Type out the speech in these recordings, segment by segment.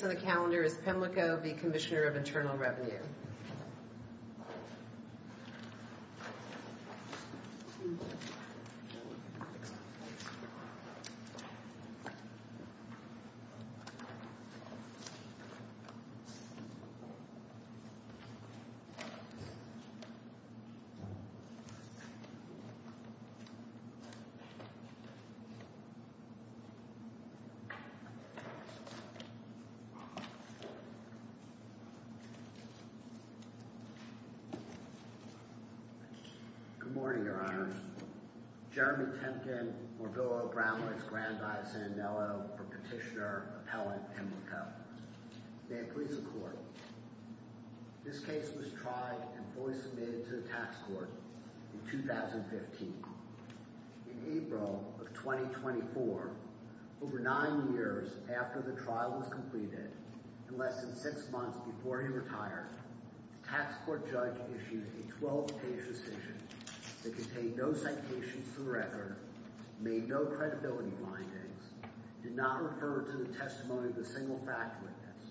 Pimlico, LLC v. Commissioner of Internal Revenue Good morning, Your Honors. Jeremy Temkin, Morvillo, Brownwoods, Grandi, Sandello, Petitioner, Appellant, Pimlico. May it please the Court, this case was tried and fully submitted to the Supreme Court. In less than six months before he retired, the tax court judge issued a 12-page decision that contained no citations to the record, made no credibility findings, did not refer to the testimony of a single fact witness,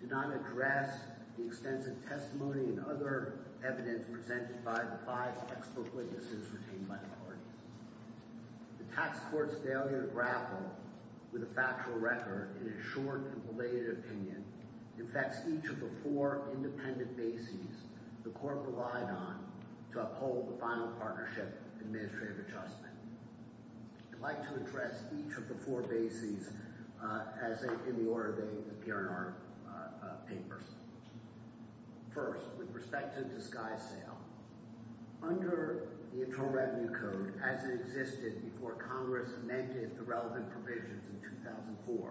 did not address the extensive testimony and other evidence presented by the five textbook witnesses retained by the The tax court's failure to grapple with a factual record in its short and belated opinion affects each of the four independent bases the Court relied on to uphold the final partnership and administrative adjustment. I'd like to address each of the four bases in the order they appear in our papers. First, with respect to the disguise sale, under the Internal Revenue Code, as it existed before Congress amended the relevant provisions in 2004,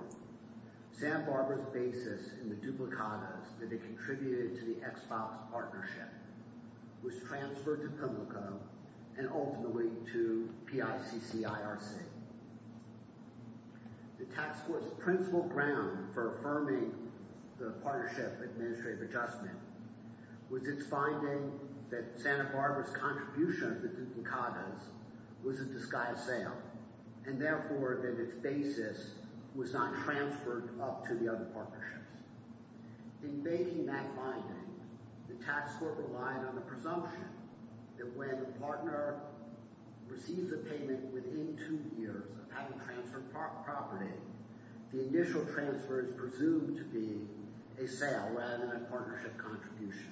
Santa Barbara's basis in the duplicadas that they contributed to the Xbox partnership was transferred to Pimlico and ultimately to PICC-IRC. The tax court's principal ground for affirming the partnership administrative adjustment was its finding that Santa Barbara's contribution to the duplicadas was a disguise sale, and therefore that its basis was not transferred up to the other partnerships. In making that finding, the tax court relied on the presumption that when a partner receives a payment within two years of having transferred property, the initial transfer is presumed to be a sale rather than a partnership contribution.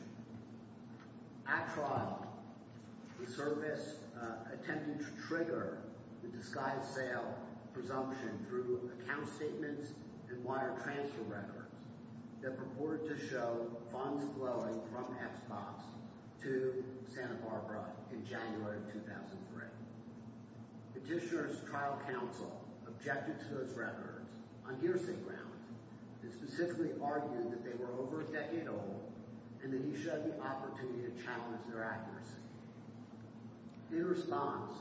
At first, the service attempted to trigger the disguise sale presumption through account statements and wire transfer records that purported to show funds flowing from Xbox to Santa Barbara in January of 2003. Petitioner's trial counsel objected to those records on hearsay grounds and specifically argued that they were over a decade old and that he should have the opportunity to challenge their accuracy. In response,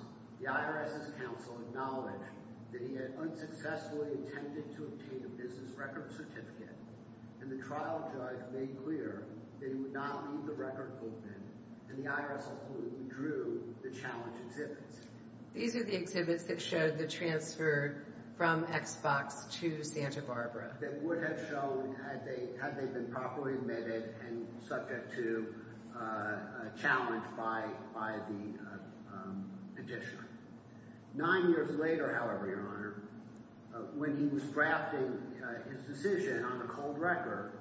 the IRS's counsel acknowledged that he had unsuccessfully attempted to obtain a business record certificate, and the trial judge made clear that he would not leave the record open, and the IRS attorney withdrew the challenge exhibits. These are the exhibits that showed the transfer from Xbox to Santa Barbara that would have shown had they been properly admitted and subject to a challenge by the petitioner. Nine years later, however, Your Honor, when he was drafting his decision on the cold record,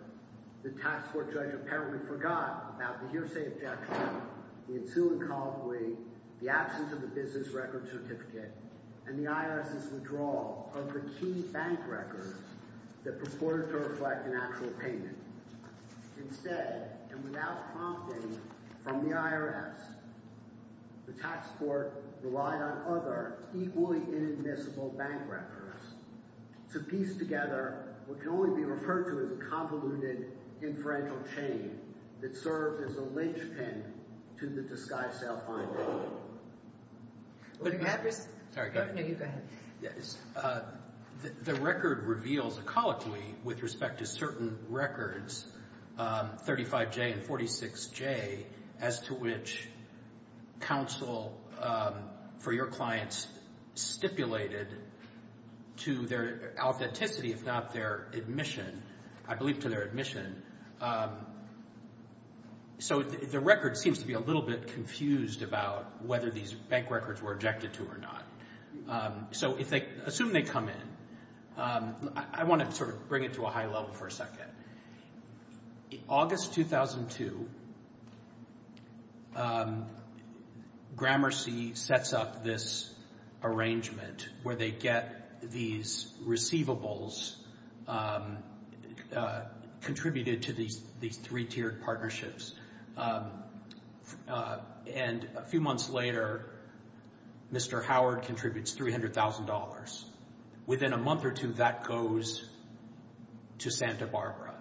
the tax court judge apparently forgot about the hearsay objection, the ensuing that purported to reflect an actual payment. Instead, and without prompting from the IRS, the tax court relied on other equally inadmissible bank records to piece together what can only be referred to as a convoluted inferential chain that served as a linchpin to the disguise of self-reliance. The record reveals ecologically with respect to certain records, 35J and 46J, as to which counsel for your clients stipulated to their authenticity, if not their admission, I believe seems to be a little bit confused about whether these bank records were objected to or not. Assume they come in. I want to sort of bring it to a high level for a second. In August 2002, Gramercy sets up this arrangement where they get these receivables contributed to these three-tiered partnerships. And a few months later, Mr. Howard contributes $300,000. Within a month or two, that goes to Santa Barbara.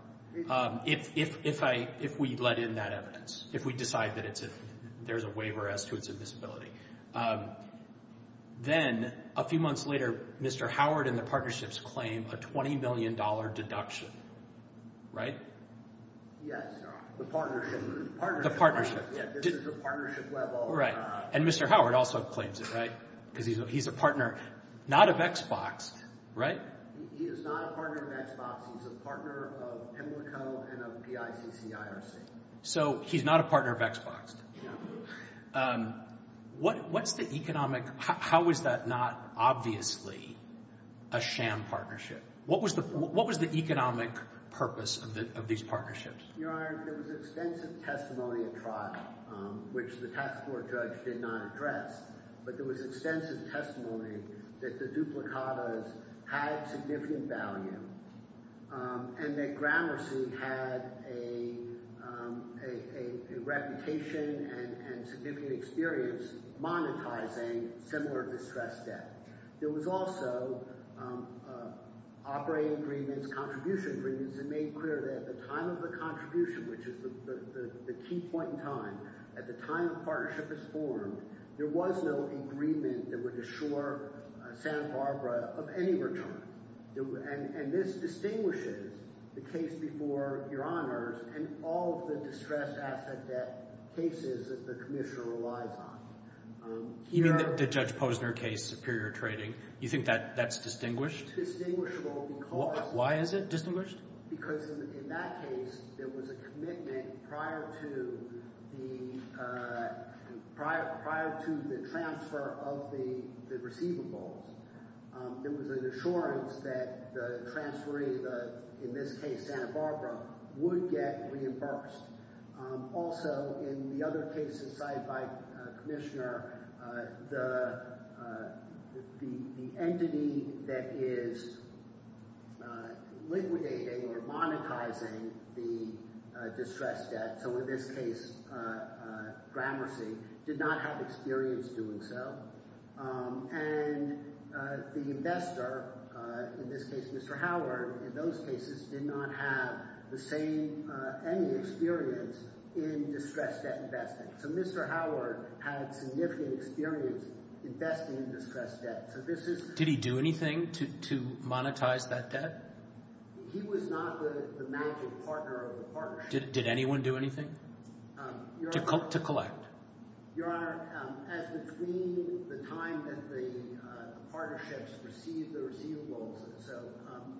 If we let in that evidence, if we decide that there's a waiver as to its admissibility. Then, a few months later, Mr. Howard and the Yes. The partnership. The partnership. This is the partnership level. Right. And Mr. Howard also claims it, right? Because he's a partner, not of Xbox, right? He is not a partner of Xbox. He's a partner of PIMLICO and of PICC-IRC. So, he's not a partner of Xbox. No. What's the economic, how is that not obviously a sham partnership? What was the economic purpose of these partnerships? Your Honor, there was extensive testimony at trial, which the task force judge did not address. But there was extensive testimony that the duplicatas had significant value. And that Gramercy had a reputation and significant experience monetizing similar distress debt. There was also operating agreements, contribution agreements. It's made clear that at the time of the contribution, which is the key point in time, at the time the partnership was formed, there was no agreement that would assure Santa Barbara of any return. And this distinguishes the case before Your Honors and all of the distressed asset debt cases that the commissioner relies on. You mean the Judge Posner case, superior trading. You think that's distinguished? It's distinguishable because… Why is it distinguished? Because in that case, there was a commitment prior to the transfer of the receivables. There was an assurance that the transferee, in this case Santa Barbara, would get reimbursed. Also, in the other cases cited by the commissioner, the entity that is liquidating or monetizing the distress debt, so in this case Gramercy, did not have experience doing so. And the investor, in this case Mr. Howard, in those cases did not have any experience in distress debt investing. So Mr. Howard had significant experience investing in distress debt. Did he do anything to monetize that debt? He was not the major partner of the partnership. Did anyone do anything to collect? Your Honor, as between the time that the partnerships received the receivables, so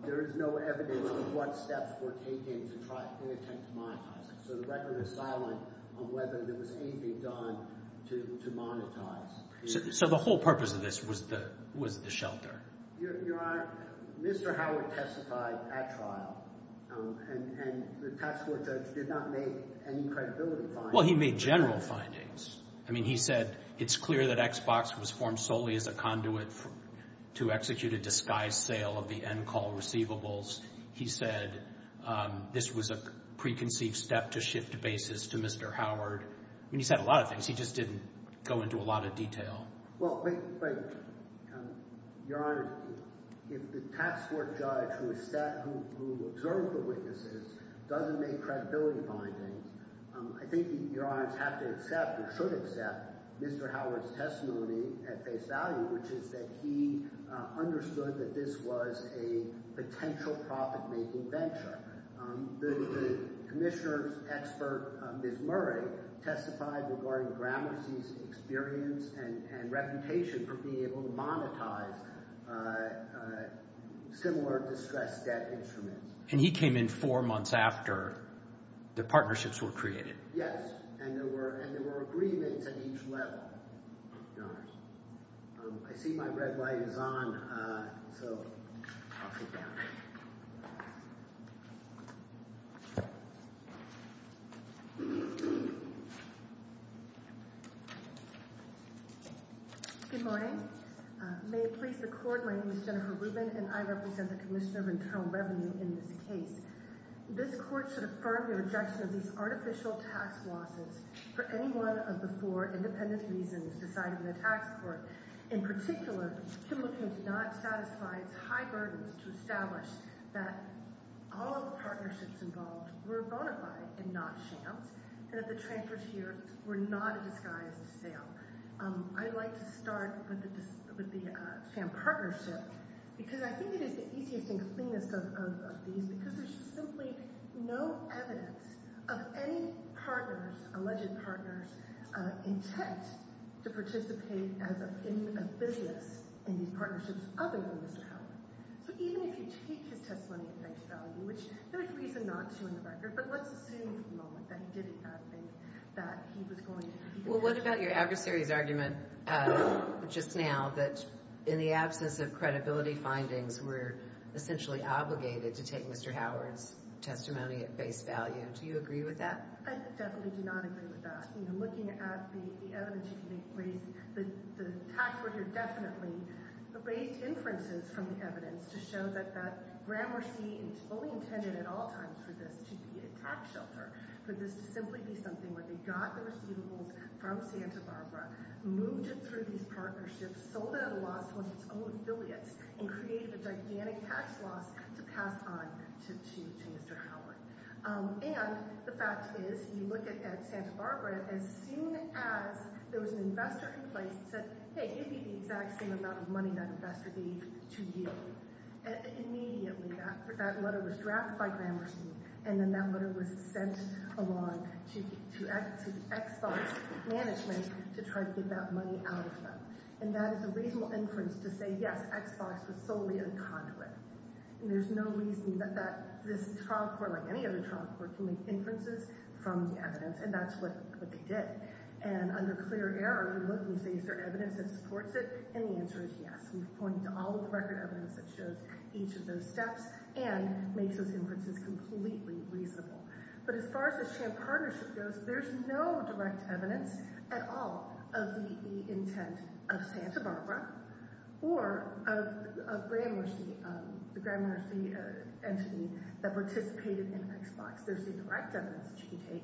there is no evidence of what steps were taken to try and attempt to monetize it. So the record is silent on whether there was anything done to monetize. So the whole purpose of this was the shelter? Your Honor, Mr. Howard testified at trial, and the tax court judge did not make any credibility findings. Well, he made general findings. I mean, he said it's clear that Xbox was formed solely as a conduit to execute a disguised sale of the end call receivables. He said this was a preconceived step to shift bases to Mr. Howard. I mean, he said a lot of things. He just didn't go into a lot of detail. Well, wait, wait. Your Honor, if the tax court judge who observed the witnesses doesn't make credibility findings, I think Your Honor has to accept or should accept Mr. Howard's testimony at face value, which is that he understood that this was a potential profit-making venture. The commissioner's expert, Ms. Murray, testified regarding Gramercy's experience and reputation for being able to monetize similar distressed debt instruments. And he came in four months after the partnerships were created. Yes, and there were agreements at each level, Your Honor. I see my red light is on, so I'll sit down. Good morning. May it please the Court, my name is Jennifer Rubin, and I represent the Commissioner of Internal Revenue in this case. This court should affirm the rejection of these artificial tax losses for any one of the four independent reasons decided in the tax court. In particular, Kimberley did not satisfy its high burdens to establish that all of the partnerships involved were bona fide and not shams, and that the transfers here were not a disguised sale. I'd like to start with the sham partnership, because I think it is the easiest and cleanest of these, because there's simply no evidence of any partners, alleged partners, intent to participate as an affiliates in these partnerships other than Mr. Howard. So even if you take his testimony at face value, which there is reason not to in the record, but let's assume for the moment that he did in fact think that he was going to keep it. Well, what about your adversary's argument just now that in the absence of credibility findings, we're essentially obligated to take Mr. Howard's testimony at face value? Do you agree with that? I definitely do not agree with that. Looking at the evidence you can make, the tax worker definitely raised inferences from the evidence to show that that Gramercy fully intended at all times for this to be a tax shelter, for this to simply be something where they got the receivables from Santa Barbara, moved it through these partnerships, sold it at a loss to one of its own affiliates, and created a gigantic tax loss to pass on to Mr. Howard. And the fact is, you look at Santa Barbara, as soon as there was an investor in place that said, hey, give me the exact same amount of money that investor gave to you, immediately that letter was drafted by Gramercy, and then that letter was sent along to Xbox management to try to get that money out of them. And that is a reasonable inference to say, yes, Xbox was solely in contact with it. And there's no reason that this trial court, like any other trial court, can make inferences from the evidence, and that's what they did. And under clear error, you look and say, is there evidence that supports it? And the answer is yes. We've pointed to all of the record evidence that shows each of those steps and makes those inferences completely reasonable. But as far as the CHAMP partnership goes, there's no direct evidence at all of the intent of Santa Barbara or of Gramercy, the Gramercy entity that participated in Xbox. There's indirect evidence that you can take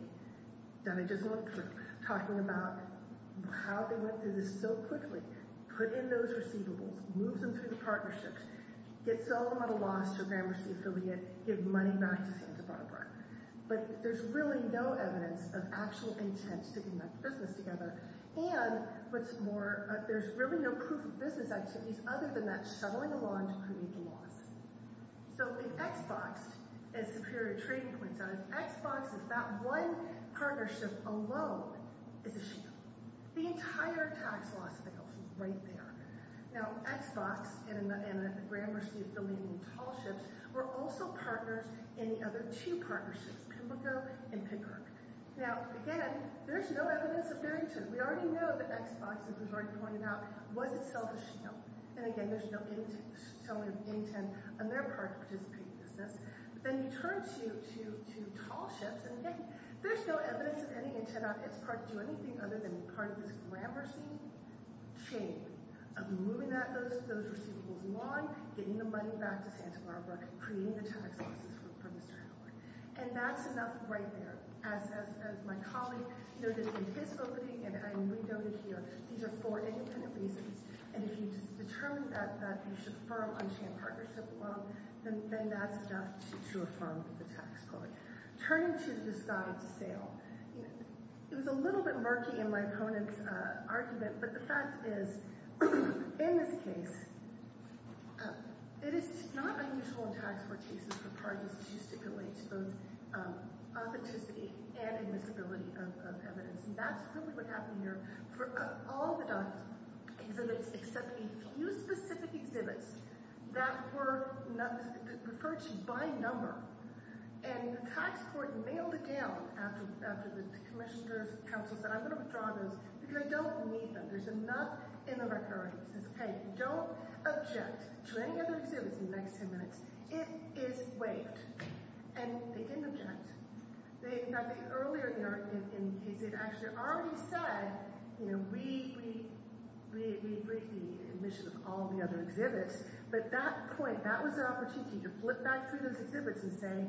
that I just went through, talking about how they went through this so quickly, put in those receivables, move them through the partnerships, get some of the lost to a Gramercy affiliate, give money back to Santa Barbara. But there's really no evidence of actual intent to connect the business together. And what's more, there's really no proof of business activities other than that shoveling along to create the loss. So the Xbox, as Superior Trading points out, Xbox, that one partnership alone, is a shill. The entire tax loss fails right there. Now, Xbox and the Gramercy affiliate in tall ships were also partners in the other two partnerships, Pimlico and Picker. Now, again, there's no evidence of bearing to it. We already know that Xbox, as was already pointed out, was itself a shill. And again, there's no telling of intent on their part to participate in the business. But then you turn to tall ships, and again, there's no evidence of any intent on its part to do anything other than be part of this Gramercy chain of moving those receivables along, getting the money back to Santa Barbara, creating the tax losses for Mr. Howard. And that's enough right there. As my colleague noted in his opening, and I re-noted here, these are for any kind of reasons. And if you just determine that you should affirm unchained partnership alone, then that's enough to affirm the tax quote. Turning to the Scott of the Sale, it was a little bit murky in my opponent's argument, but the fact is, in this case, it is not unusual in tax court cases for parties to stipulate both authenticity and admissibility of evidence. And that's really what happened here for all the documents, except a few specific exhibits that were referred to by number. And the tax court mailed it down after the commissioner's counsel said, I'm going to withdraw those because I don't need them. There's enough in the record that says, hey, don't object to any of the exhibits in the next 10 minutes. It is waived. And they didn't object. Now, earlier in the case, they'd actually already said, you know, we agree to the admission of all the other exhibits. But that point, that was their opportunity to flip back through those exhibits and say,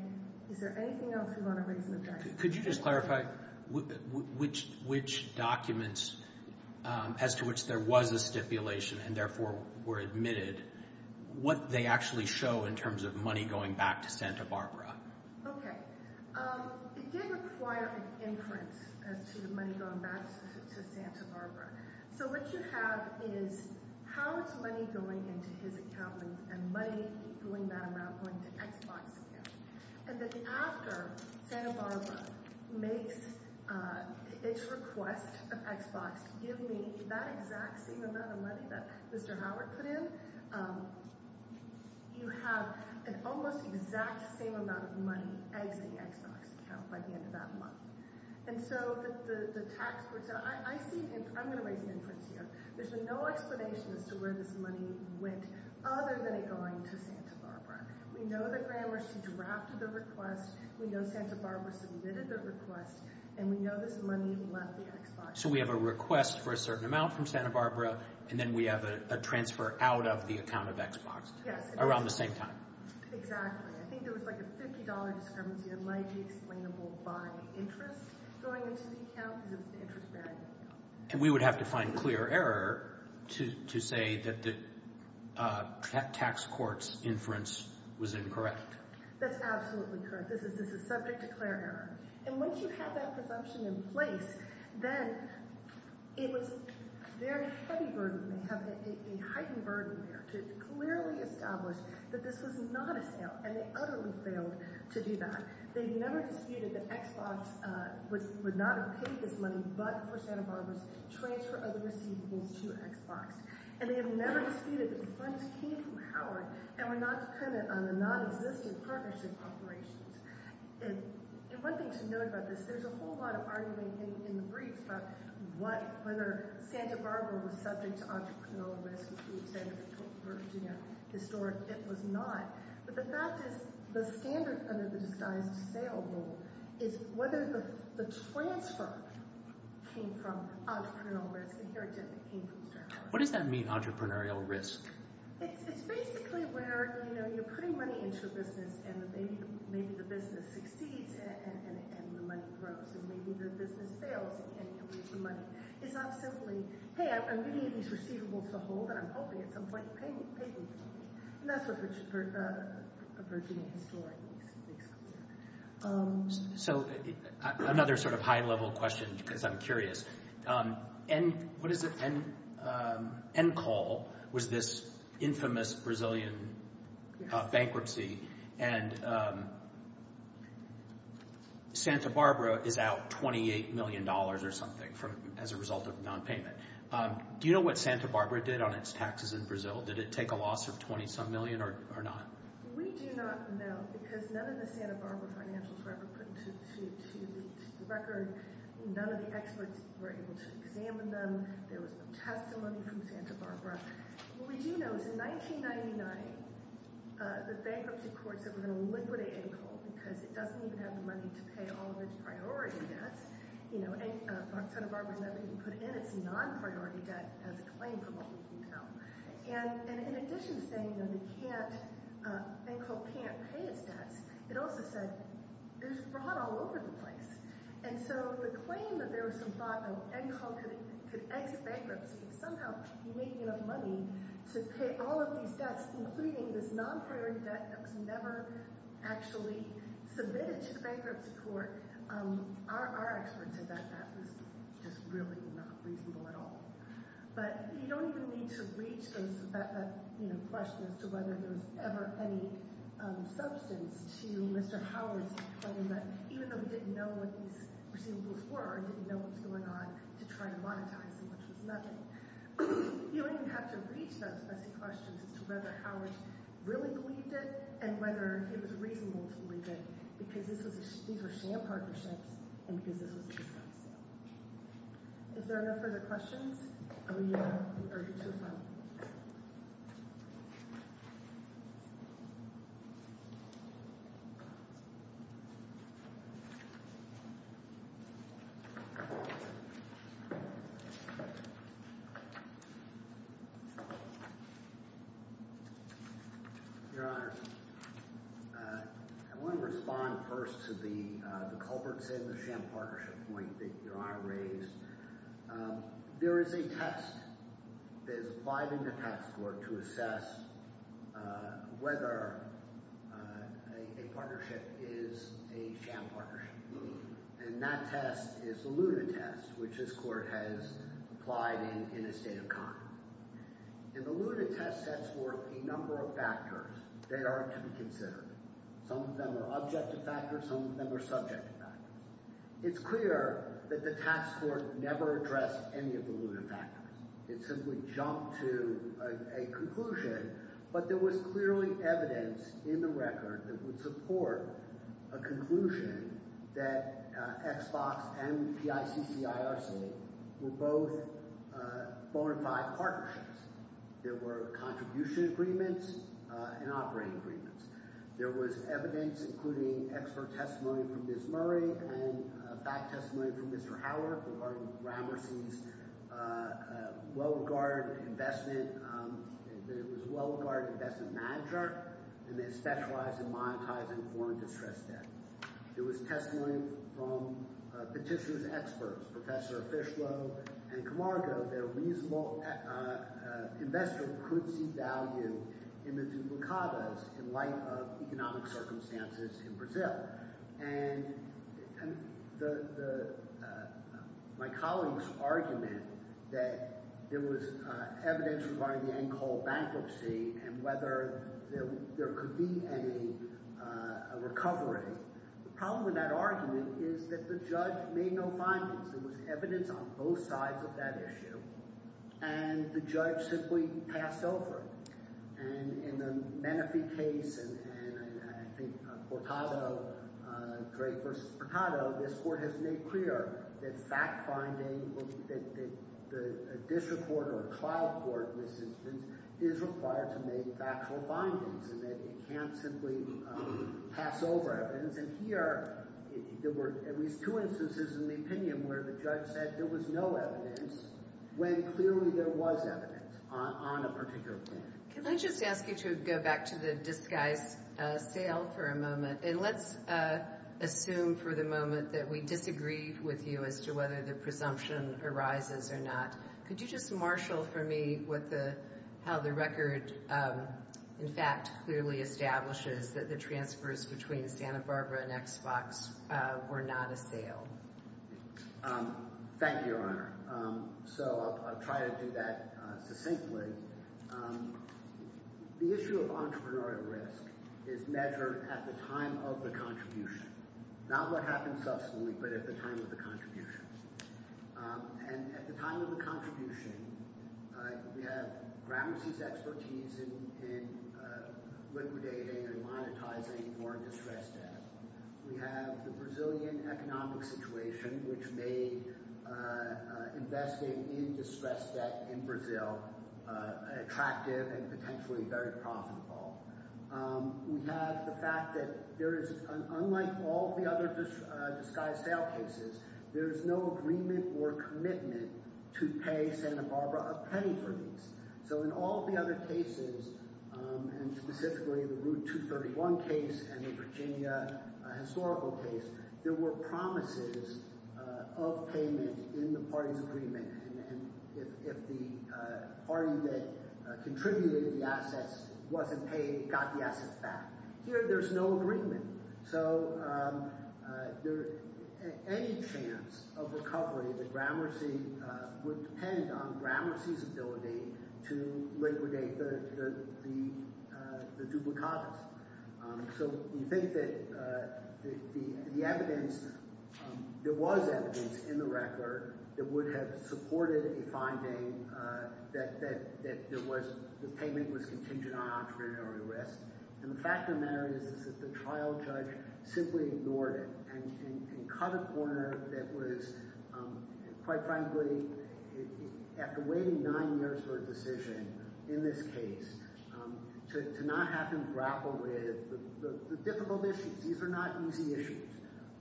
is there anything else you want to raise in objection? Could you just clarify which documents, as to which there was a stipulation and therefore were admitted, what they actually show in terms of money going back to Santa Barbara? Okay. It did require an inference as to money going back to Santa Barbara. So what you have is, how is money going into his account and money going back to Xbox again? And then after Santa Barbara makes its request of Xbox to give me that exact same amount of money that Mr. Howard put in, you have an almost exact same amount of money exiting Xbox's account by the end of that month. And so the tax court said, I'm going to raise an inference here. There's been no explanation as to where this money went other than it going to Santa Barbara. We know that Gramercy drafted the request. We know Santa Barbara submitted the request. And we know this money left the Xbox. So we have a request for a certain amount from Santa Barbara, and then we have a transfer out of the account of Xbox. Yes. Around the same time. Exactly. I think there was like a $50 discrepancy that might be explainable by interest going into the account because it was an interest-bearing account. And we would have to find clear error to say that the tax court's inference was incorrect. That's absolutely correct. This is subject to clear error. And once you have that presumption in place, then it was very heavy burden. They have a heightened burden there to clearly establish that this was not a sale, and they utterly failed to do that. They have never disputed that Xbox would not have paid this money but for Santa Barbara's transfer of the receivables to Xbox. And they have never disputed that the funds came from Howard and were not dependent on the nonexistent partnership operations. And one thing to note about this, there's a whole lot of arguing in the briefs about whether Santa Barbara was subject to entrepreneurial risk, because the briefs say it was historic. It was not. But the fact is the standard under the disguised sale rule is whether the transfer came from entrepreneurial risk. And here it didn't. It came from sales. What does that mean, entrepreneurial risk? It's basically where you're putting money into a business, and maybe the business succeeds, and the money grows. And maybe the business fails, and you lose the money. It's not simply, hey, I'm giving you these receivables to hold, and I'm hoping at some point you'll pay me. And that's a Virginia story. So another sort of high-level question, because I'm curious. Encol was this infamous Brazilian bankruptcy, and Santa Barbara is out $28 million or something as a result of nonpayment. Do you know what Santa Barbara did on its taxes in Brazil? Did it take a loss of $20-some million or not? We do not know, because none of the Santa Barbara financials were ever put to the record. None of the experts were able to examine them. There was no testimony from Santa Barbara. What we do know is in 1999, the bankruptcy court said we're going to liquidate Encol, because it doesn't even have the money to pay all of its priority debts. You know, Santa Barbara has never even put in its non-priority debt as a claim from what we know. And in addition to saying that Encol can't pay its debts, it also said it was brought all over the place. And so the claim that there was some thought that Encol could exit bankruptcy and somehow be making enough money to pay all of these debts, including this non-priority debt that was never actually submitted to the bankruptcy court, our experts said that that was just really not reasonable at all. But you don't even need to reach that question as to whether there was ever any substance to Mr. Howard's claim that even though he didn't know what these receivables were, he didn't know what was going on, to try and monetize them, which was nothing. You don't even have to reach those messy questions as to whether Howard really believed it and whether it was reasonable to believe it, because these were sham partnerships and because this was just some sale. If there are no further questions, I will now turn it over to you, sir. Your Honor, I want to respond first to the culprits in the sham partnership point that Your Honor raised. There is a test. There's a five-minute test to assess whether a partnership is a sham partnership. And that test is the Luna test, which this court has applied in a state of conduct. And the Luna test sets forth a number of factors that are to be considered. Some of them are objective factors. Some of them are subjective factors. It's clear that the tax court never addressed any of the Luna factors. It simply jumped to a conclusion, but there was clearly evidence in the record that would support a conclusion that Xbox and PICC-IRC were both bona fide partnerships. There were contribution agreements and operating agreements. There was evidence, including expert testimony from Ms. Murray and fact testimony from Mr. Howard regarding Gramercy's well-regarded investment manager, and they specialize in monetizing foreign distress debt. There was testimony from Petitioner's experts, Professor Fishlow and Camargo, that a reasonable investor could see value in the duplicadas in light of economic circumstances in Brazil. And my colleague's argument that there was evidence regarding the end call bankruptcy and whether there could be any recovery, the problem with that argument is that the judge made no findings. There was evidence on both sides of that issue, and the judge simply passed over it. And in the Menefee case, and I think Portado, Drake versus Portado, this court has made clear that fact-finding, that a district court or a trial court in this instance is required to make factual findings and that it can't simply pass over evidence. And here, there were at least two instances in the opinion where the judge said there was no evidence when clearly there was evidence on a particular point. Can I just ask you to go back to the disguise sale for a moment? And let's assume for the moment that we disagree with you as to whether the presumption arises or not. Could you just marshal for me how the record, in fact, clearly establishes that the transfers between Santa Barbara and Xbox were not a sale? Thank you, Your Honor. So I'll try to do that succinctly. The issue of entrepreneurial risk is measured at the time of the contribution, not what happens subsequently but at the time of the contribution. And at the time of the contribution, we have Gramercy's expertise in liquidating and monetizing more distressed debt. We have the Brazilian economic situation, which made investing in distressed debt in Brazil attractive and potentially very profitable. We have the fact that there is, unlike all the other disguised sale cases, there is no agreement or commitment to pay Santa Barbara a penny for these. So in all the other cases, and specifically the Route 231 case and the Virginia historical case, there were promises of payment in the party's agreement. And if the party that contributed the assets wasn't paid, it got the assets back. Here there's no agreement. So any chance of recovery that Gramercy would depend on Gramercy's ability to liquidate the duplicates. So you think that the evidence – there was evidence in the record that would have supported a finding that there was – the payment was contingent on entrepreneurial risk. And the fact of the matter is that the trial judge simply ignored it and cut a corner that was, quite frankly, after waiting nine years for a decision in this case, to not have him grapple with the difficult issues. These are not easy issues.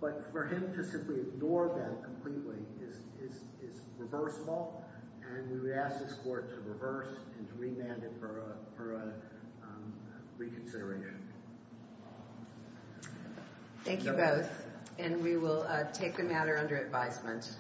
But for him to simply ignore them completely is reversible, and we would ask this court to reverse and to remand it for a reconsideration. Thank you both, and we will take the matter under advisement.